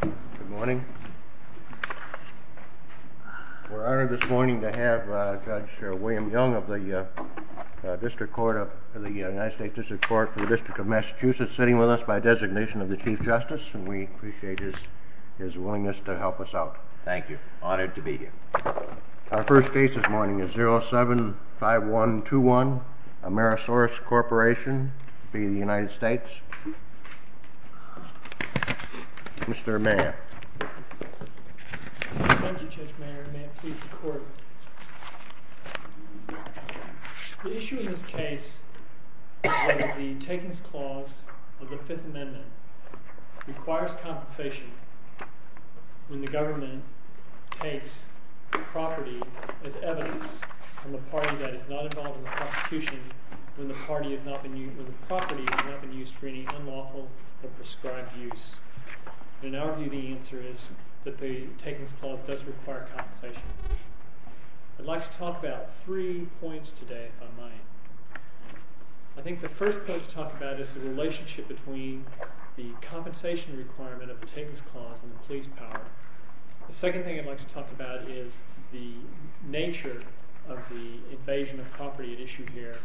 Good morning. We're honored this morning to have Judge William Young of the United States District Court for the District of Massachusetts sitting with us by designation of the Chief Justice, and we appreciate his willingness to help us out. Thank you. Honored to be here. Our first case this morning is 075121 Amerisource Corporation v. United States. Mr. Mayor. Thank you, Judge Mayer. May it please the Court. The issue in this case is that the takings clause of the Fifth Amendment requires compensation when the government takes property as evidence from the party that is not involved in the prosecution when the property has not been used for any unlawful or prescribed use. In our view, the answer is that the takings clause does require compensation. I'd like to talk about three points today, if I might. I think the first point to talk about is the relationship between the compensation requirement of the takings clause and the police power. The second thing I'd like to talk about is the nature of the invasion of property at issue here.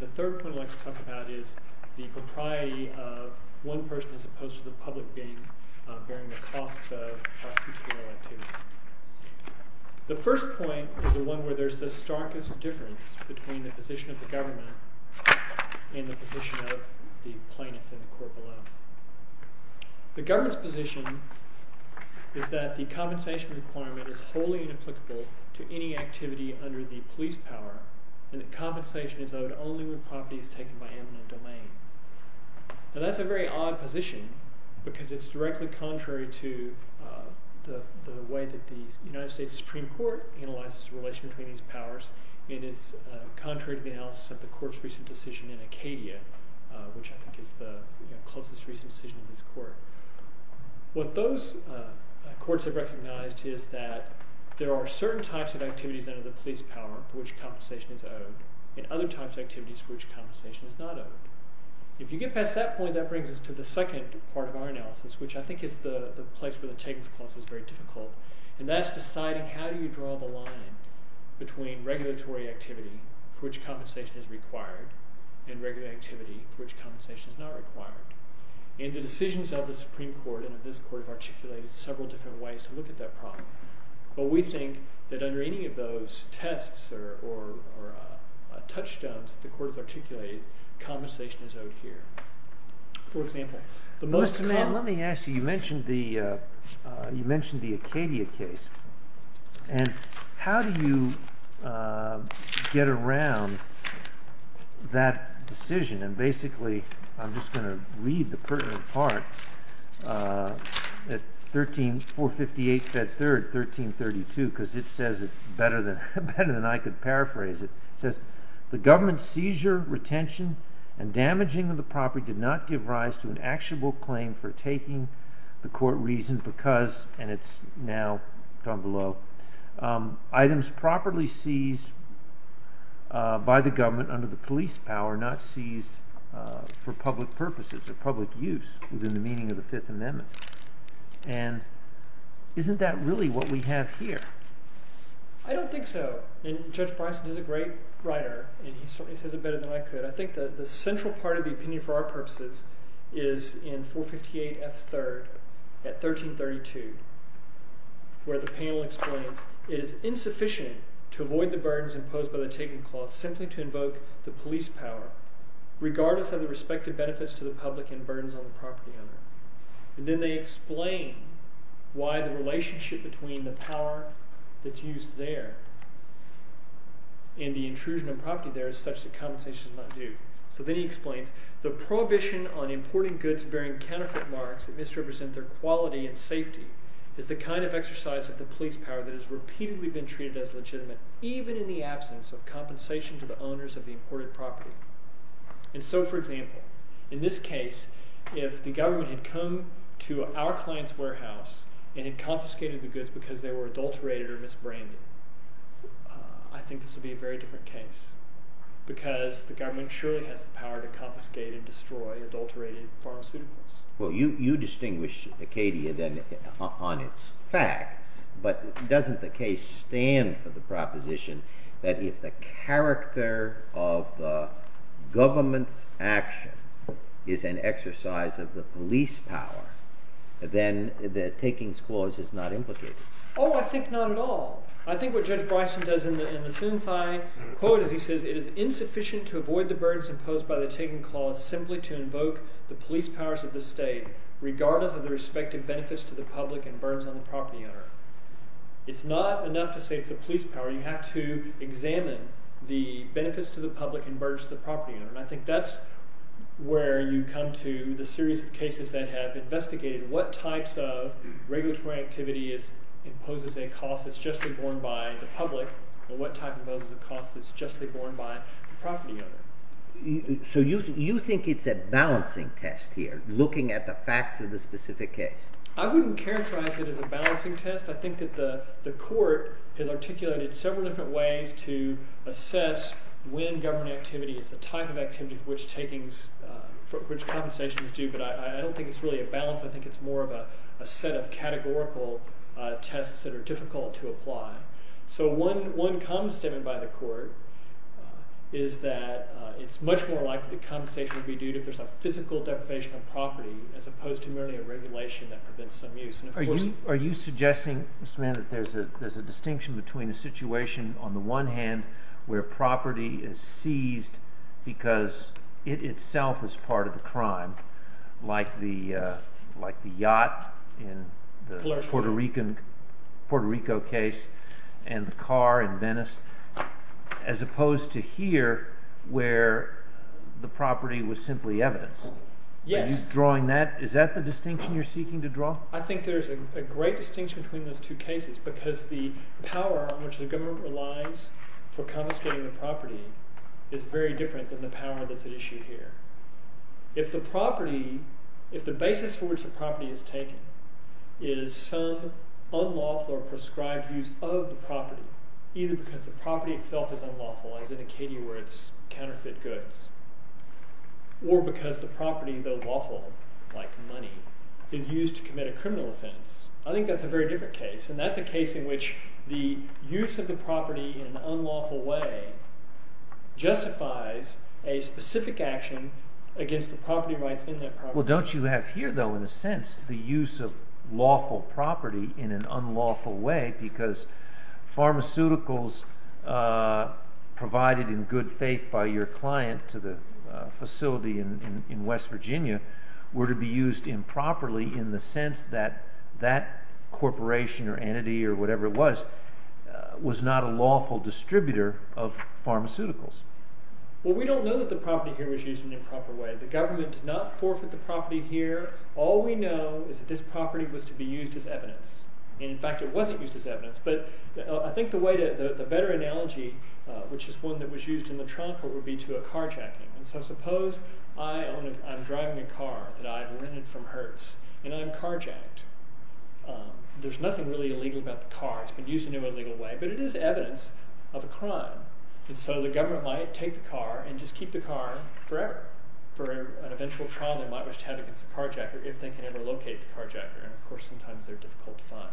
The third point I'd like to talk about is the propriety of one person as opposed to the public being, bearing the costs of prosecutorial activity. The first point is the one where there's the starkest difference between the position of the government and the position of the plaintiff in the court below. The government's position is that the compensation requirement is wholly inapplicable to any activity under the police power and that compensation is owed only when property is taken by amendment of domain. That's a very odd position because it's directly contrary to the way that the United States Supreme Court analyzes the relation between these powers. It is contrary to the analysis of the court's recent decision in Acadia, which I think is the closest recent decision in this court. What those courts have recognized is that there are certain types of activities under the police power for which compensation is owed and other types of activities for which compensation is not owed. If you get past that point, that brings us to the second part of our analysis, which I think is the place where the takings clause is very difficult, and that's deciding how do you draw the line between regulatory activity for which compensation is required and regular activity for which compensation is not required. The decisions of the Supreme Court and of this court have articulated several different ways to look at that problem, but we think that under any of those tests or touchstones that the court has articulated, compensation is owed here. Let me ask you, you mentioned the Acadia case, and how do you get around that decision? And basically, I'm just going to read the pertinent part at 458 Fed 3rd, 1332, because it says it better than I could paraphrase it. It says, the government's seizure, retention, and damaging of the property did not give rise to an actionable claim for taking the court reason because, and it's now down below, items properly seized by the government under the police power not seized for public purposes or public use within the meaning of the Fifth Amendment. And isn't that really what we have here? I don't think so, and Judge Bryson is a great writer, and he certainly says it better than I could. I think that the central part of the opinion for our purposes is in 458 F. 3rd at 1332, where the panel explains, it is insufficient to avoid the burdens imposed by the taking clause simply to invoke the police power, regardless of the respective benefits to the public and burdens on the property owner. And then they explain why the relationship between the power that's used there and the intrusion of property there is such that compensation is not due. So then he explains, the prohibition on importing goods bearing counterfeit marks that misrepresent their quality and safety is the kind of exercise of the police power that has repeatedly been treated as legitimate, even in the absence of compensation to the owners of the imported property. And so, for example, in this case, if the government had come to our client's warehouse and had confiscated the goods because they were adulterated or misbranded, I think this would be a very different case, because the government surely has the power to confiscate and destroy adulterated pharmaceuticals. Well, you distinguish Acadia, then, on its facts. But doesn't the case stand for the proposition that if the character of the government's action is an exercise of the police power, then the takings clause is not implicated? Oh, I think not at all. I think what Judge Bryson does in the sentence I quote is he says, it is insufficient to avoid the burdens imposed by the taking clause simply to invoke the police powers of the state, regardless of the respective benefits to the public and burdens on the property owner. It's not enough to say it's a police power. You have to examine the benefits to the public and burdens to the property owner. And I think that's where you come to the series of cases that have investigated what types of regulatory activity imposes a cost. It's justly borne by the public. And what type of those is a cost that's justly borne by the property owner. So you think it's a balancing test here, looking at the facts of the specific case? I wouldn't characterize it as a balancing test. I think that the court has articulated several different ways to assess when government activity is the type of activity which compensations do. But I don't think it's really a balance. I think it's more of a set of categorical tests that are difficult to apply. So one common statement by the court is that it's much more likely that compensation would be due if there's a physical deprivation of property as opposed to merely a regulation that prevents some use. Are you suggesting, Mr. Mann, that there's a distinction between a situation on the one hand where property is seized because it itself is part of the crime, like the yacht in the Puerto Rico case, and the car in Venice, as opposed to here where the property was simply evidence? Yes. Are you drawing that? Is that the distinction you're seeking to draw? I think there's a great distinction between those two cases because the power on which the government relies for confiscating the property is very different than the power that's at issue here. If the basis for which the property is taken is some unlawful or prescribed use of the property, either because the property itself is unlawful, as indicated where it's counterfeit goods, or because the property, though lawful, like money, is used to commit a criminal offense, I think that's a very different case. And that's a case in which the use of the property in an unlawful way justifies a specific action against the property rights in that property. Well, don't you have here, though, in a sense the use of lawful property in an unlawful way because pharmaceuticals provided in good faith by your client to the facility in West Virginia were to be used improperly in the sense that that corporation or entity or whatever it was was not a lawful distributor of pharmaceuticals? Well, we don't know that the property here was used in an improper way. The government did not forfeit the property here. All we know is that this property was to be used as evidence. In fact, it wasn't used as evidence, but I think the better analogy, which is one that was used in the trial court, would be to a carjacking. So suppose I'm driving a car that I've rented from Hertz, and I'm carjacked. There's nothing really illegal about the car. It's been used in an illegal way, but it is evidence of a crime. And so the government might take the car and just keep the car forever for an eventual trial they might wish to have against the carjacker if they can ever locate the carjacker. And of course, sometimes they're difficult to find.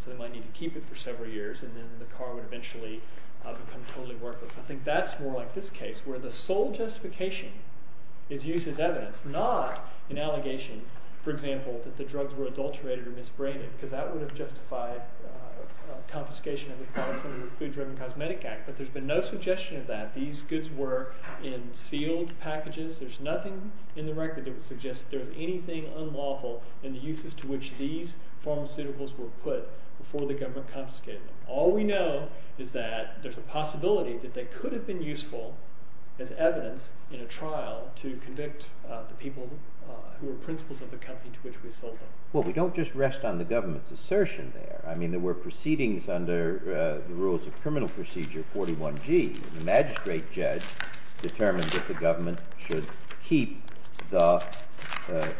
So they might need to keep it for several years, and then the car would eventually become totally worthless. I think that's more like this case, where the sole justification is used as evidence, not an allegation, for example, that the drugs were adulterated or misbranded, because that would have justified confiscation of the products under the Food-Driven Cosmetic Act. But there's been no suggestion of that. These goods were in sealed packages. There's nothing in the record that would suggest that there was anything unlawful in the uses to which these pharmaceuticals were put before the government confiscated them. All we know is that there's a possibility that they could have been useful as evidence in a trial to convict the people who were principals of the company to which we sold them. Well, we don't just rest on the government's assertion there. I mean, there were proceedings under the rules of criminal procedure 41G. And the magistrate judge determined that the government should keep the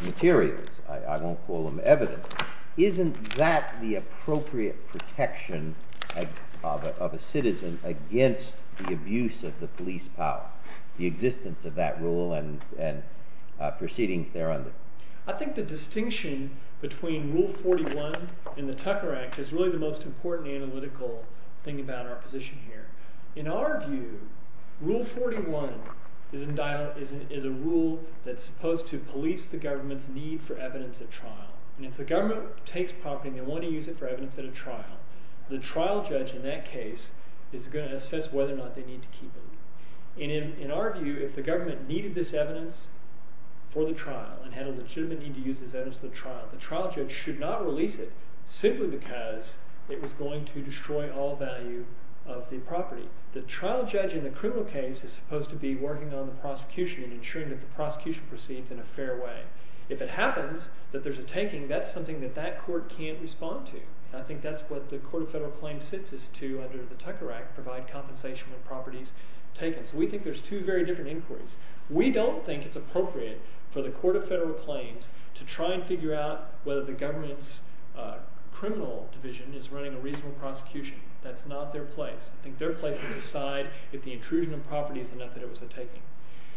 materials. I won't call them evidence. Isn't that the appropriate protection of a citizen against the abuse of the police power, the existence of that rule and proceedings thereunder? I think the distinction between Rule 41 and the Tucker Act is really the most important analytical thing about our position here. In our view, Rule 41 is a rule that's supposed to police the government's need for evidence at trial. And if the government takes property and they want to use it for evidence at a trial, the trial judge in that case is going to assess whether or not they need to keep it. And in our view, if the government needed this evidence for the trial and had a legitimate need to use this evidence for the trial, the trial judge should not release it simply because it was going to destroy all value of the property. The trial judge in the criminal case is supposed to be working on the prosecution and ensuring that the prosecution proceeds in a fair way. If it happens that there's a taking, that's something that that court can't respond to. I think that's what the Court of Federal Claims sits as to under the Tucker Act, provide compensation when property is taken. So we think there's two very different inquiries. We don't think it's appropriate for the Court of Federal Claims to try and figure out whether the government's criminal division is running a reasonable prosecution. That's not their place. I think their place is to decide if the intrusion of property is enough that it was a taking.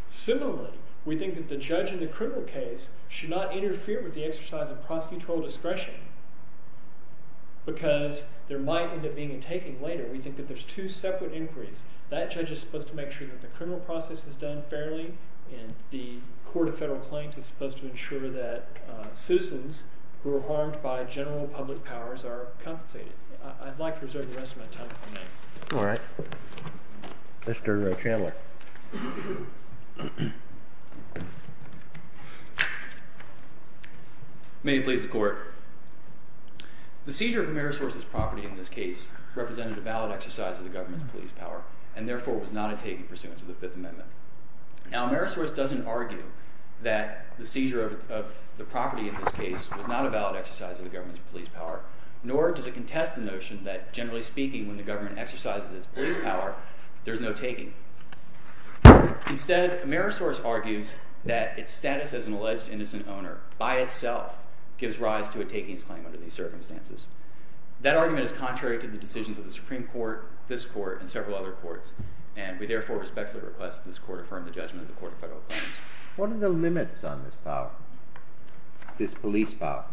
Similarly, we think that the judge in the criminal case should not interfere with the exercise of prosecutorial discretion because there might end up being a taking later. We think that there's two separate inquiries. That judge is supposed to make sure that the criminal process is done fairly, and the Court of Federal Claims is supposed to ensure that citizens who are harmed by general public powers are compensated. I'd like to reserve the rest of my time for that. All right. Mr. Chandler. May it please the Court. The seizure of Amerisource's property in this case represented a valid exercise of the government's police power and therefore was not a taking pursuant to the Fifth Amendment. Now, Amerisource doesn't argue that the seizure of the property in this case was not a valid exercise of the government's police power, nor does it contest the notion that, generally speaking, when the government exercises its police power, there's no taking. Instead, Amerisource argues that its status as an alleged innocent owner by itself gives rise to a takings claim under these circumstances. That argument is contrary to the decisions of the Supreme Court, this Court, and several other courts, and we therefore respectfully request that this Court affirm the judgment of the Court of Federal Claims. What are the limits on this power, this police power?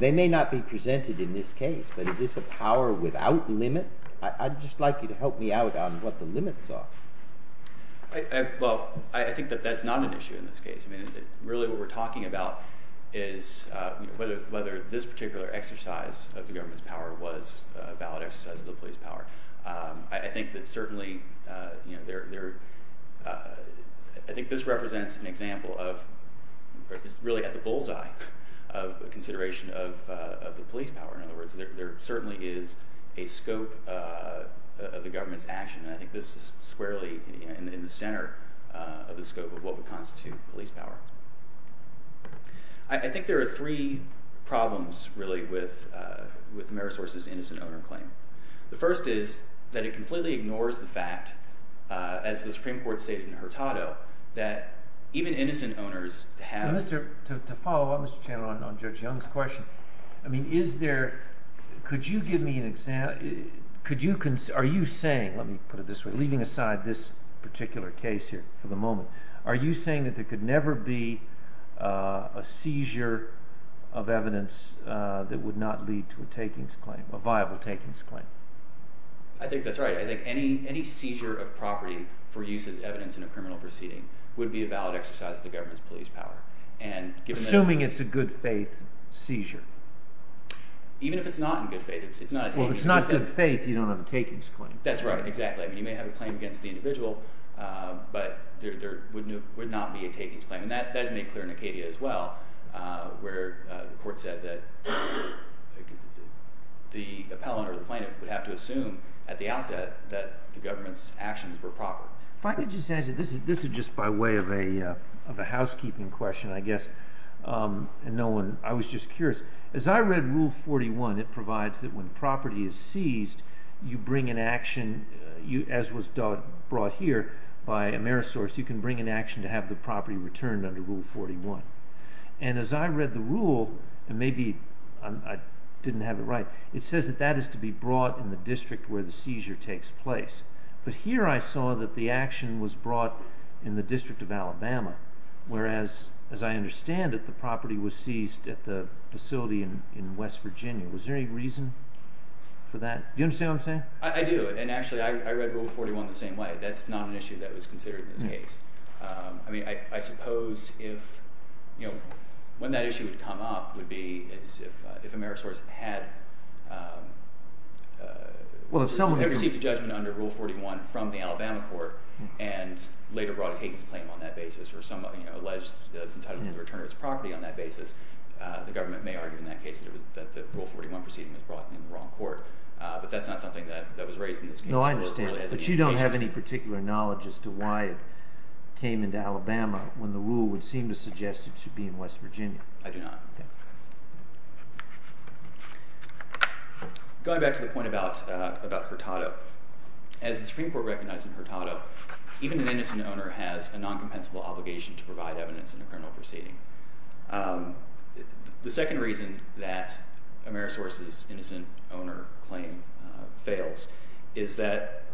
They may not be presented in this case, but is this a power without limit? I'd just like you to help me out on what the limits are. Well, I think that that's not an issue in this case. Really, what we're talking about is whether this particular exercise of the government's power was a valid exercise of the police power. I think that certainly there—I think this represents an example of—really at the bullseye of consideration of the police power. In other words, there certainly is a scope of the government's action, and I think this is squarely in the center of the scope of what would constitute police power. I think there are three problems, really, with Amerisource's innocent owner claim. The first is that it completely ignores the fact, as the Supreme Court stated in Hurtado, that even innocent owners have— To follow up, Mr. Chandler, on Judge Young's question, I mean, is there—could you give me an example? Are you saying—let me put it this way, leaving aside this particular case here for the moment— are you saying that there could never be a seizure of evidence that would not lead to a takings claim, a viable takings claim? I think that's right. I think any seizure of property for use as evidence in a criminal proceeding would be a valid exercise of the government's police power. Assuming it's a good faith seizure. Even if it's not in good faith, it's not a takings claim. Well, if it's not in good faith, you don't have a takings claim. That's right, exactly. I mean, you may have a claim against the individual, but there would not be a takings claim. And that is made clear in Acadia as well, where the court said that the appellant or the plaintiff would have to assume at the outset that the government's actions were proper. If I could just answer—this is just by way of a housekeeping question, I guess, and no one—I was just curious. As I read Rule 41, it provides that when property is seized, you bring an action, as was brought here by Amerisource, you can bring an action to have the property returned under Rule 41. And as I read the rule, and maybe I didn't have it right, it says that that is to be brought in the district where the seizure takes place. But here I saw that the action was brought in the District of Alabama, whereas, as I understand it, the property was seized at the facility in West Virginia. Was there any reason for that? Do you understand what I'm saying? I do. And actually, I read Rule 41 the same way. That's not an issue that was considered in this case. I mean, I suppose if—when that issue would come up would be if Amerisource had received a judgment under Rule 41 from the Alabama court and later brought a taken claim on that basis or someone alleged that it was entitled to the return of its property on that basis, the government may argue in that case that the Rule 41 proceeding was brought in the wrong court. But that's not something that was raised in this case. No, I understand. But you don't have any particular knowledge as to why it came into Alabama when the rule would seem to suggest it should be in West Virginia. I do not. Going back to the point about Hurtado, as the Supreme Court recognized in Hurtado, even an innocent owner has a non-compensable obligation to provide evidence in a criminal proceeding. The second reason that Amerisource's innocent owner claim fails is that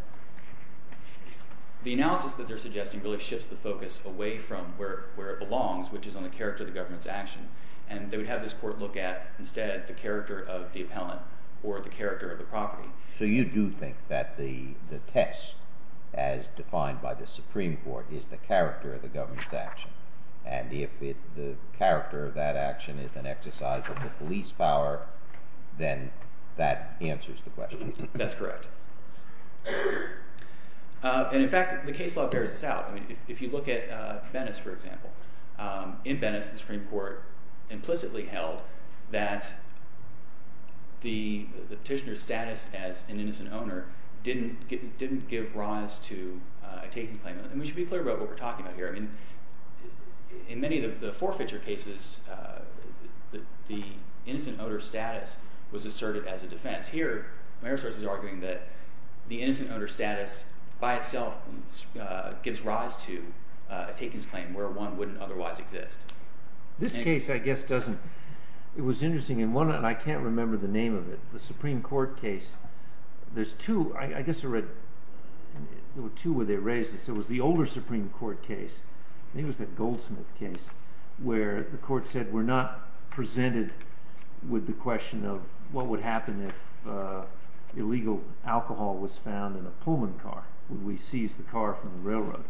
the analysis that they're suggesting really shifts the focus away from where it belongs, which is on the character of the government's action. And they would have this court look at instead the character of the appellant or the character of the property. So you do think that the test, as defined by the Supreme Court, is the character of the government's action. And if the character of that action is an exercise of the police power, then that answers the question. That's correct. And, in fact, the case law bears this out. If you look at Venice, for example, in Venice the Supreme Court implicitly held that the petitioner's status as an innocent owner didn't give rise to a taking claim. And we should be clear about what we're talking about here. In many of the forfeiture cases, the innocent owner's status was asserted as a defense. Here Amerisource is arguing that the innocent owner's status by itself gives rise to a takings claim where one wouldn't otherwise exist. This case, I guess, doesn't – it was interesting. And one – and I can't remember the name of it – the Supreme Court case, there's two – I guess I read – there were two where they raised this. There was the older Supreme Court case. I think it was that Goldsmith case where the court said we're not presented with the question of what would happen if illegal alcohol was found in a Pullman car. Would we seize the car from the railroad?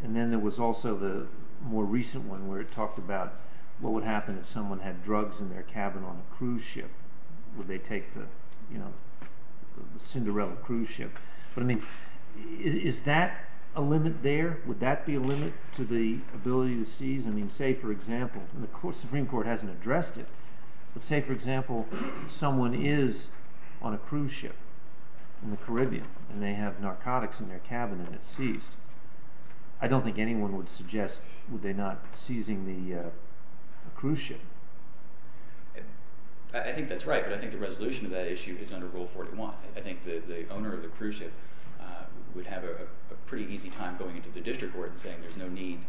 And then there was also the more recent one where it talked about what would happen if someone had drugs in their cabin on a cruise ship. Would they take the Cinderella cruise ship? But I mean is that a limit there? Would that be a limit to the ability to seize? I mean say, for example – and the Supreme Court hasn't addressed it – but say, for example, someone is on a cruise ship in the Caribbean and they have narcotics in their cabin and it's seized. I don't think anyone would suggest would they not be seizing the cruise ship. I think that's right, but I think the resolution to that issue is under Rule 41. I think the owner of the cruise ship would have a pretty easy time going into the district court and saying there's no need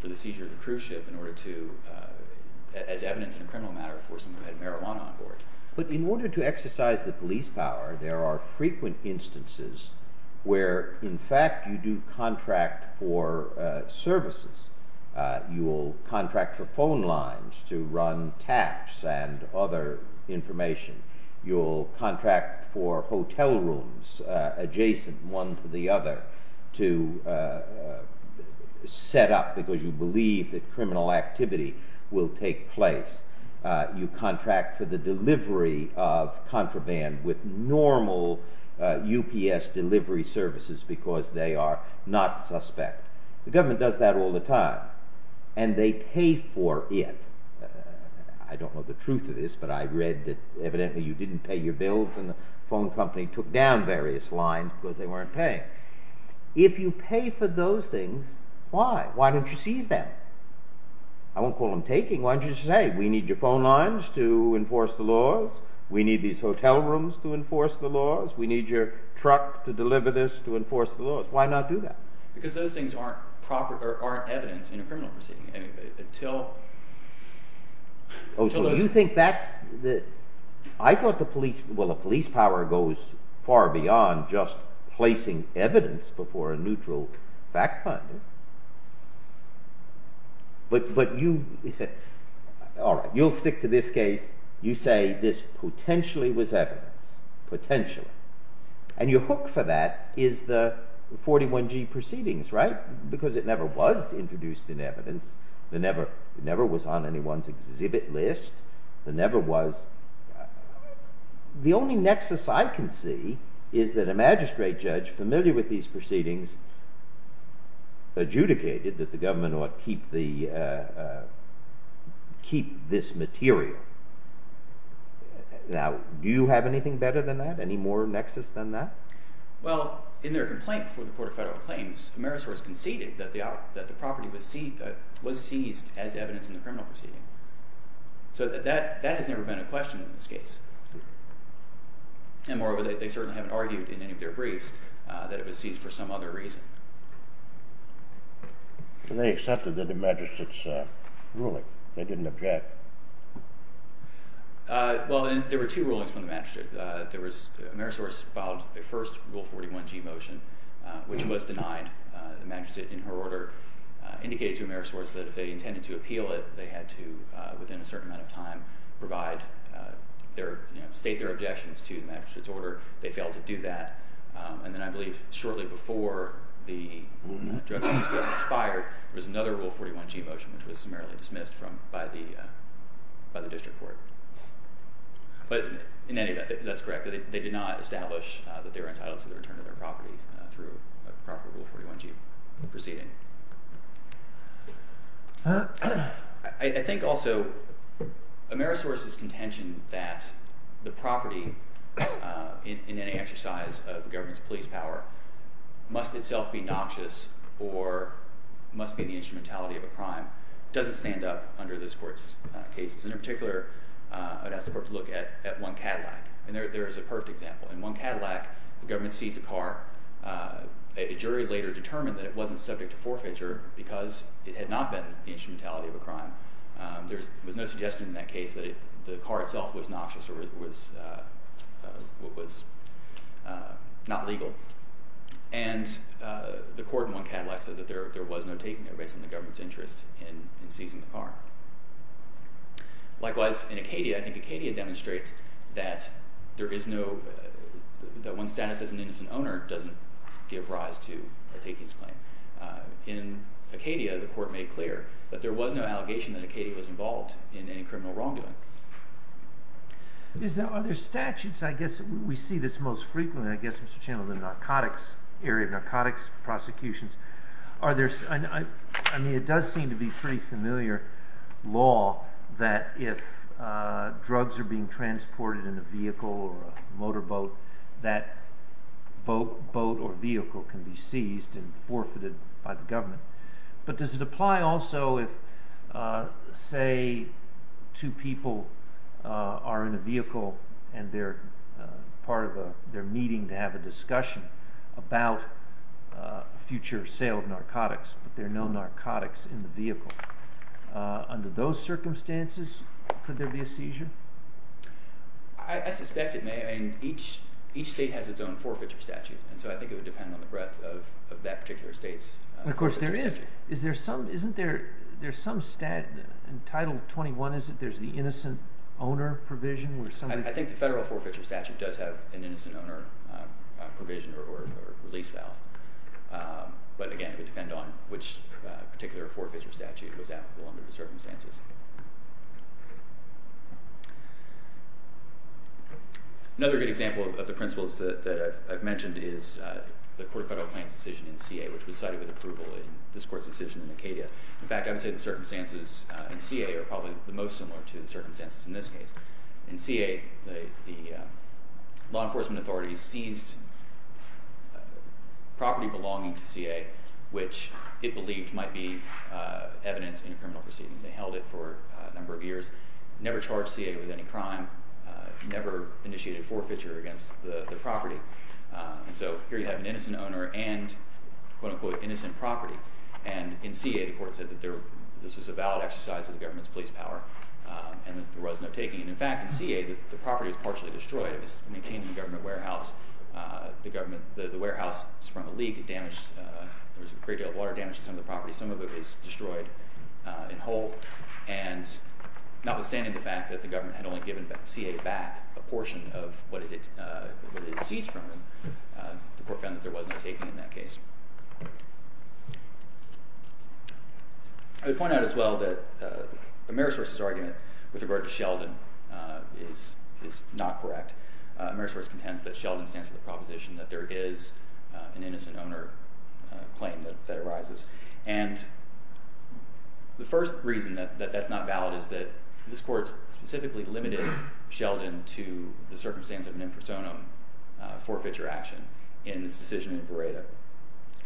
for the seizure of the cruise ship in order to – as evidence in a criminal matter – force someone to have marijuana on board. But in order to exercise the police power, there are frequent instances where, in fact, you do contract for services. You will contract for phone lines to run taps and other information. You will contract for hotel rooms adjacent one to the other to set up because you believe that criminal activity will take place. You contract for the delivery of contraband with normal UPS delivery services because they are not suspect. The government does that all the time, and they pay for it. I don't know the truth of this, but I read that evidently you didn't pay your bills and the phone company took down various lines because they weren't paying. If you pay for those things, why? Why don't you seize them? I won't call them taking. Why don't you just say we need your phone lines to enforce the laws. We need these hotel rooms to enforce the laws. We need your truck to deliver this to enforce the laws. Why not do that? Because those things aren't evidence in a criminal proceeding. Oh, so you think that's the – I thought the police – well, the police power goes far beyond just placing evidence before a neutral fact finder. But you – all right, you'll stick to this case. You say this potentially was evidence, potentially. And your hook for that is the 41G proceedings, right, because it never was introduced in evidence. It never was on anyone's exhibit list. It never was – the only nexus I can see is that a magistrate judge familiar with these proceedings adjudicated that the government ought to keep this material. Now, do you have anything better than that? Any more nexus than that? Well, in their complaint before the Court of Federal Claims, Amerisource conceded that the property was seized as evidence in the criminal proceeding. So that has never been a question in this case. And moreover, they certainly haven't argued in any of their briefs that it was seized for some other reason. They accepted the magistrate's ruling. They didn't object. Well, there were two rulings from the magistrate. There was – Amerisource filed a first Rule 41G motion, which was denied the magistrate in her order, indicated to Amerisource that if they intended to appeal it, they had to, within a certain amount of time, provide their – state their objections to the magistrate's order. They failed to do that. And then I believe shortly before the judgment was expired, there was another Rule 41G motion, which was summarily dismissed from – by the district court. But in any event, that's correct. They did not establish that they were entitled to the return of their property through a proper Rule 41G proceeding. I think also Amerisource's contention that the property in any exercise of the government's police power must itself be noxious or must be the instrumentality of a crime doesn't stand up under this court's cases. And in particular, I'd ask the court to look at 1 Cadillac. And there is a perfect example. In 1 Cadillac, the government seized a car. A jury later determined that it wasn't subject to forfeiture because it had not been the instrumentality of a crime. There was no suggestion in that case that the car itself was noxious or it was not legal. And the court in 1 Cadillac said that there was no taking it based on the government's interest in seizing the car. Likewise, in Acadia, I think Acadia demonstrates that there is no – that one's status as an innocent owner doesn't give rise to a takings claim. In Acadia, the court made clear that there was no allegation that Acadia was involved in any criminal wrongdoing. Are there statutes? I guess we see this most frequently, I guess, Mr. Chandler, in the narcotics area, narcotics prosecutions. Are there – I mean it does seem to be pretty familiar law that if drugs are being transported in a vehicle or a motorboat, that boat or vehicle can be seized and forfeited by the government. But does it apply also if, say, two people are in a vehicle and they're part of a – they're meeting to have a discussion about future sale of narcotics, but there are no narcotics in the vehicle. Under those circumstances, could there be a seizure? I suspect it may, and each state has its own forfeiture statute, and so I think it would depend on the breadth of that particular state's forfeiture statute. Of course, there is. Is there some – isn't there some – in Title 21, is it, there's the innocent owner provision where somebody – I think the federal forfeiture statute does have an innocent owner provision or release valve. But again, it would depend on which particular forfeiture statute was applicable under the circumstances. Another good example of the principles that I've mentioned is the court of federal claims decision in CA, which was cited with approval in this court's decision in Acadia. In fact, I would say the circumstances in CA are probably the most similar to the circumstances in this case. In CA, the law enforcement authorities seized property belonging to CA which it believed might be evidence in a criminal proceeding. They held it for a number of years, never charged CA with any crime, never initiated forfeiture against the property. And so here you have an innocent owner and quote-unquote innocent property. And in CA, the court said that this was a valid exercise of the government's police power and that there was no taking. And in fact, in CA, the property was partially destroyed. It was maintained in a government warehouse. The government – the warehouse sprung a leak. It damaged – there was a great deal of water damage to some of the property. Some of it was destroyed and whole. And notwithstanding the fact that the government had only given CA back a portion of what it had seized from them, the court found that there was no taking in that case. I would point out as well that the Merisource's argument with regard to Sheldon is not correct. Merisource contends that Sheldon stands for the proposition that there is an innocent owner claim that arises. And the first reason that that's not valid is that this court specifically limited Sheldon to the circumstance of an infersonum forfeiture action in this decision in Beretta.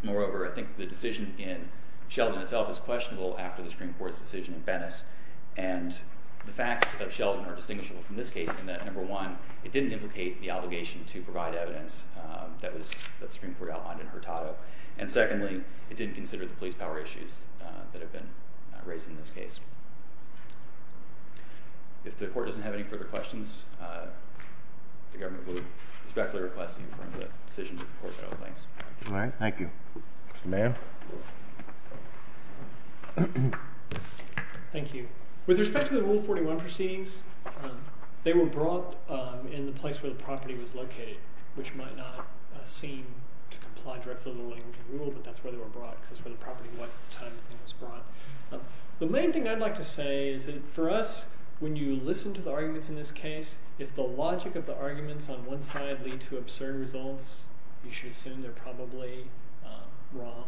Moreover, I think the decision in Sheldon itself is questionable after the Supreme Court's decision in Venice. And the facts of Sheldon are distinguishable from this case in that, number one, it didn't implicate the obligation to provide evidence that the Supreme Court outlined in Hurtado. And secondly, it didn't consider the police power issues that have been raised in this case. If the court doesn't have any further questions, the government would respectfully request an informed decision to the court at all times. All right. Thank you. Mr. Mayor? Thank you. With respect to the Rule 41 proceedings, they were brought in the place where the property was located, which might not seem to comply directly with the language of the rule. But that's where they were brought because that's where the property was at the time the thing was brought. The main thing I'd like to say is that for us, when you listen to the arguments in this case, if the logic of the arguments on one side lead to absurd results, you should assume they're probably wrong.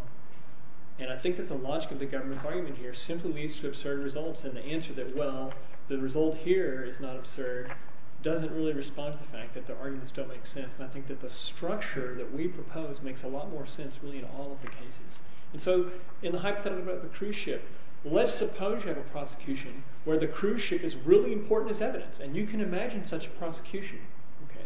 And I think that the logic of the government's argument here simply leads to absurd results. And the answer that, well, the result here is not absurd, doesn't really respond to the fact that the arguments don't make sense. And I think that the structure that we propose makes a lot more sense, really, in all of the cases. And so in the hypothetical about the cruise ship, let's suppose you have a prosecution where the cruise ship is really important as evidence. And you can imagine such a prosecution.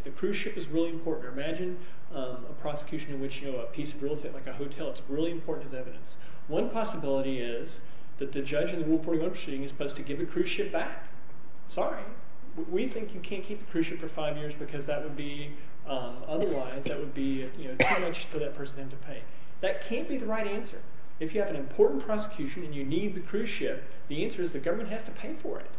The cruise ship is really important. Imagine a prosecution in which a piece of real estate, like a hotel, it's really important as evidence. One possibility is that the judge in the Rule 41 proceeding is supposed to give the cruise ship back. Sorry, we think you can't keep the cruise ship for five years because otherwise that would be too much for that person to pay. That can't be the right answer. If you have an important prosecution and you need the cruise ship, the answer is the government has to pay for it.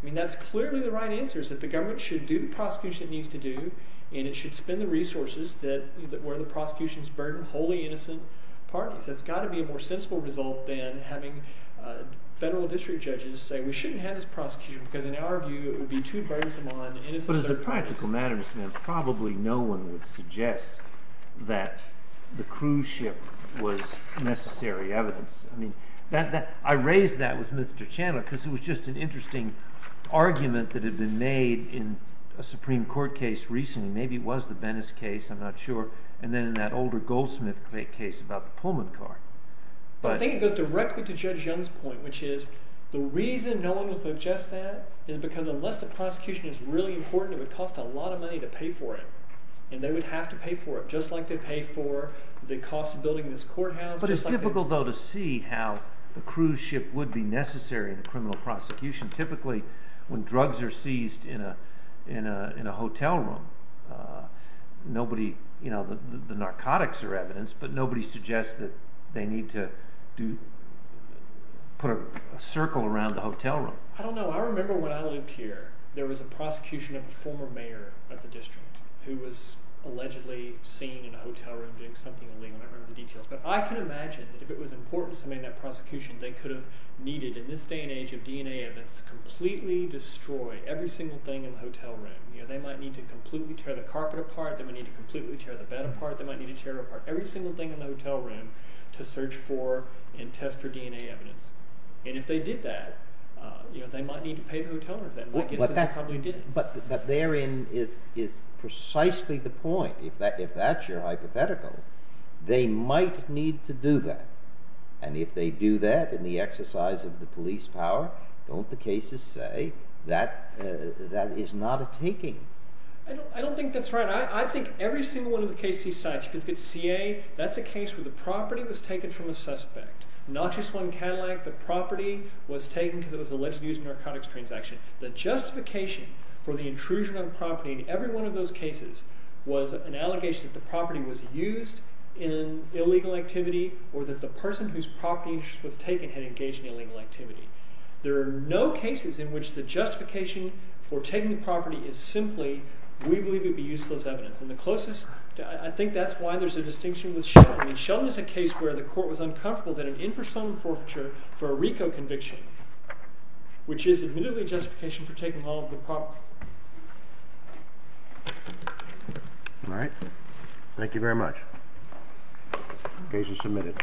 I mean that's clearly the right answer is that the government should do the prosecution it needs to do, and it should spend the resources where the prosecution is burdened wholly innocent parties. That's got to be a more sensible result than having federal district judges say we shouldn't have this prosecution because in our view it would be too burdensome on innocent parties. But as a practical matter, Mr. Nance, probably no one would suggest that the cruise ship was necessary evidence. I raised that with Mr. Chandler because it was just an interesting argument that had been made in a Supreme Court case recently. Maybe it was the Venice case, I'm not sure, and then in that older Goldsmith case about the Pullman car. I think it goes directly to Judge Young's point, which is the reason no one would suggest that is because unless the prosecution is really important, it would cost a lot of money to pay for it. And they would have to pay for it, just like they pay for the cost of building this courthouse. But it's typical, though, to see how the cruise ship would be necessary in a criminal prosecution. Typically, when drugs are seized in a hotel room, the narcotics are evidence, but nobody suggests that they need to put a circle around the hotel room. I don't know. I remember when I lived here, there was a prosecution of a former mayor of the district who was allegedly seen in a hotel room doing something illegal. I don't remember the details. But I can imagine that if it was important to submit that prosecution, they could have needed, in this day and age of DNA evidence, to completely destroy every single thing in the hotel room. They might need to completely tear the carpet apart. They might need to completely tear the bed apart. They might need to tear apart every single thing in the hotel room to search for and test for DNA evidence. And if they did that, they might need to pay the hotel rent. My guess is they probably didn't. But therein is precisely the point. If that's your hypothetical, they might need to do that. And if they do that in the exercise of the police power, don't the cases say that that is not a taking? I don't think that's right. I think every single one of the cases he cites, if you look at CA, that's a case where the property was taken from a suspect. Not just one Cadillac, the property was taken because it was allegedly used in a narcotics transaction. The justification for the intrusion on property in every one of those cases was an allegation that the property was used in illegal activity or that the person whose property was taken had engaged in illegal activity. There are no cases in which the justification for taking the property is simply, we believe it would be useful as evidence. And the closest – I think that's why there's a distinction with Sheldon. Sheldon is a case where the court was uncomfortable that an impersonal forfeiture for a RICO conviction, which is admittedly justification for taking all of the property. All right. Thank you very much. Case is submitted.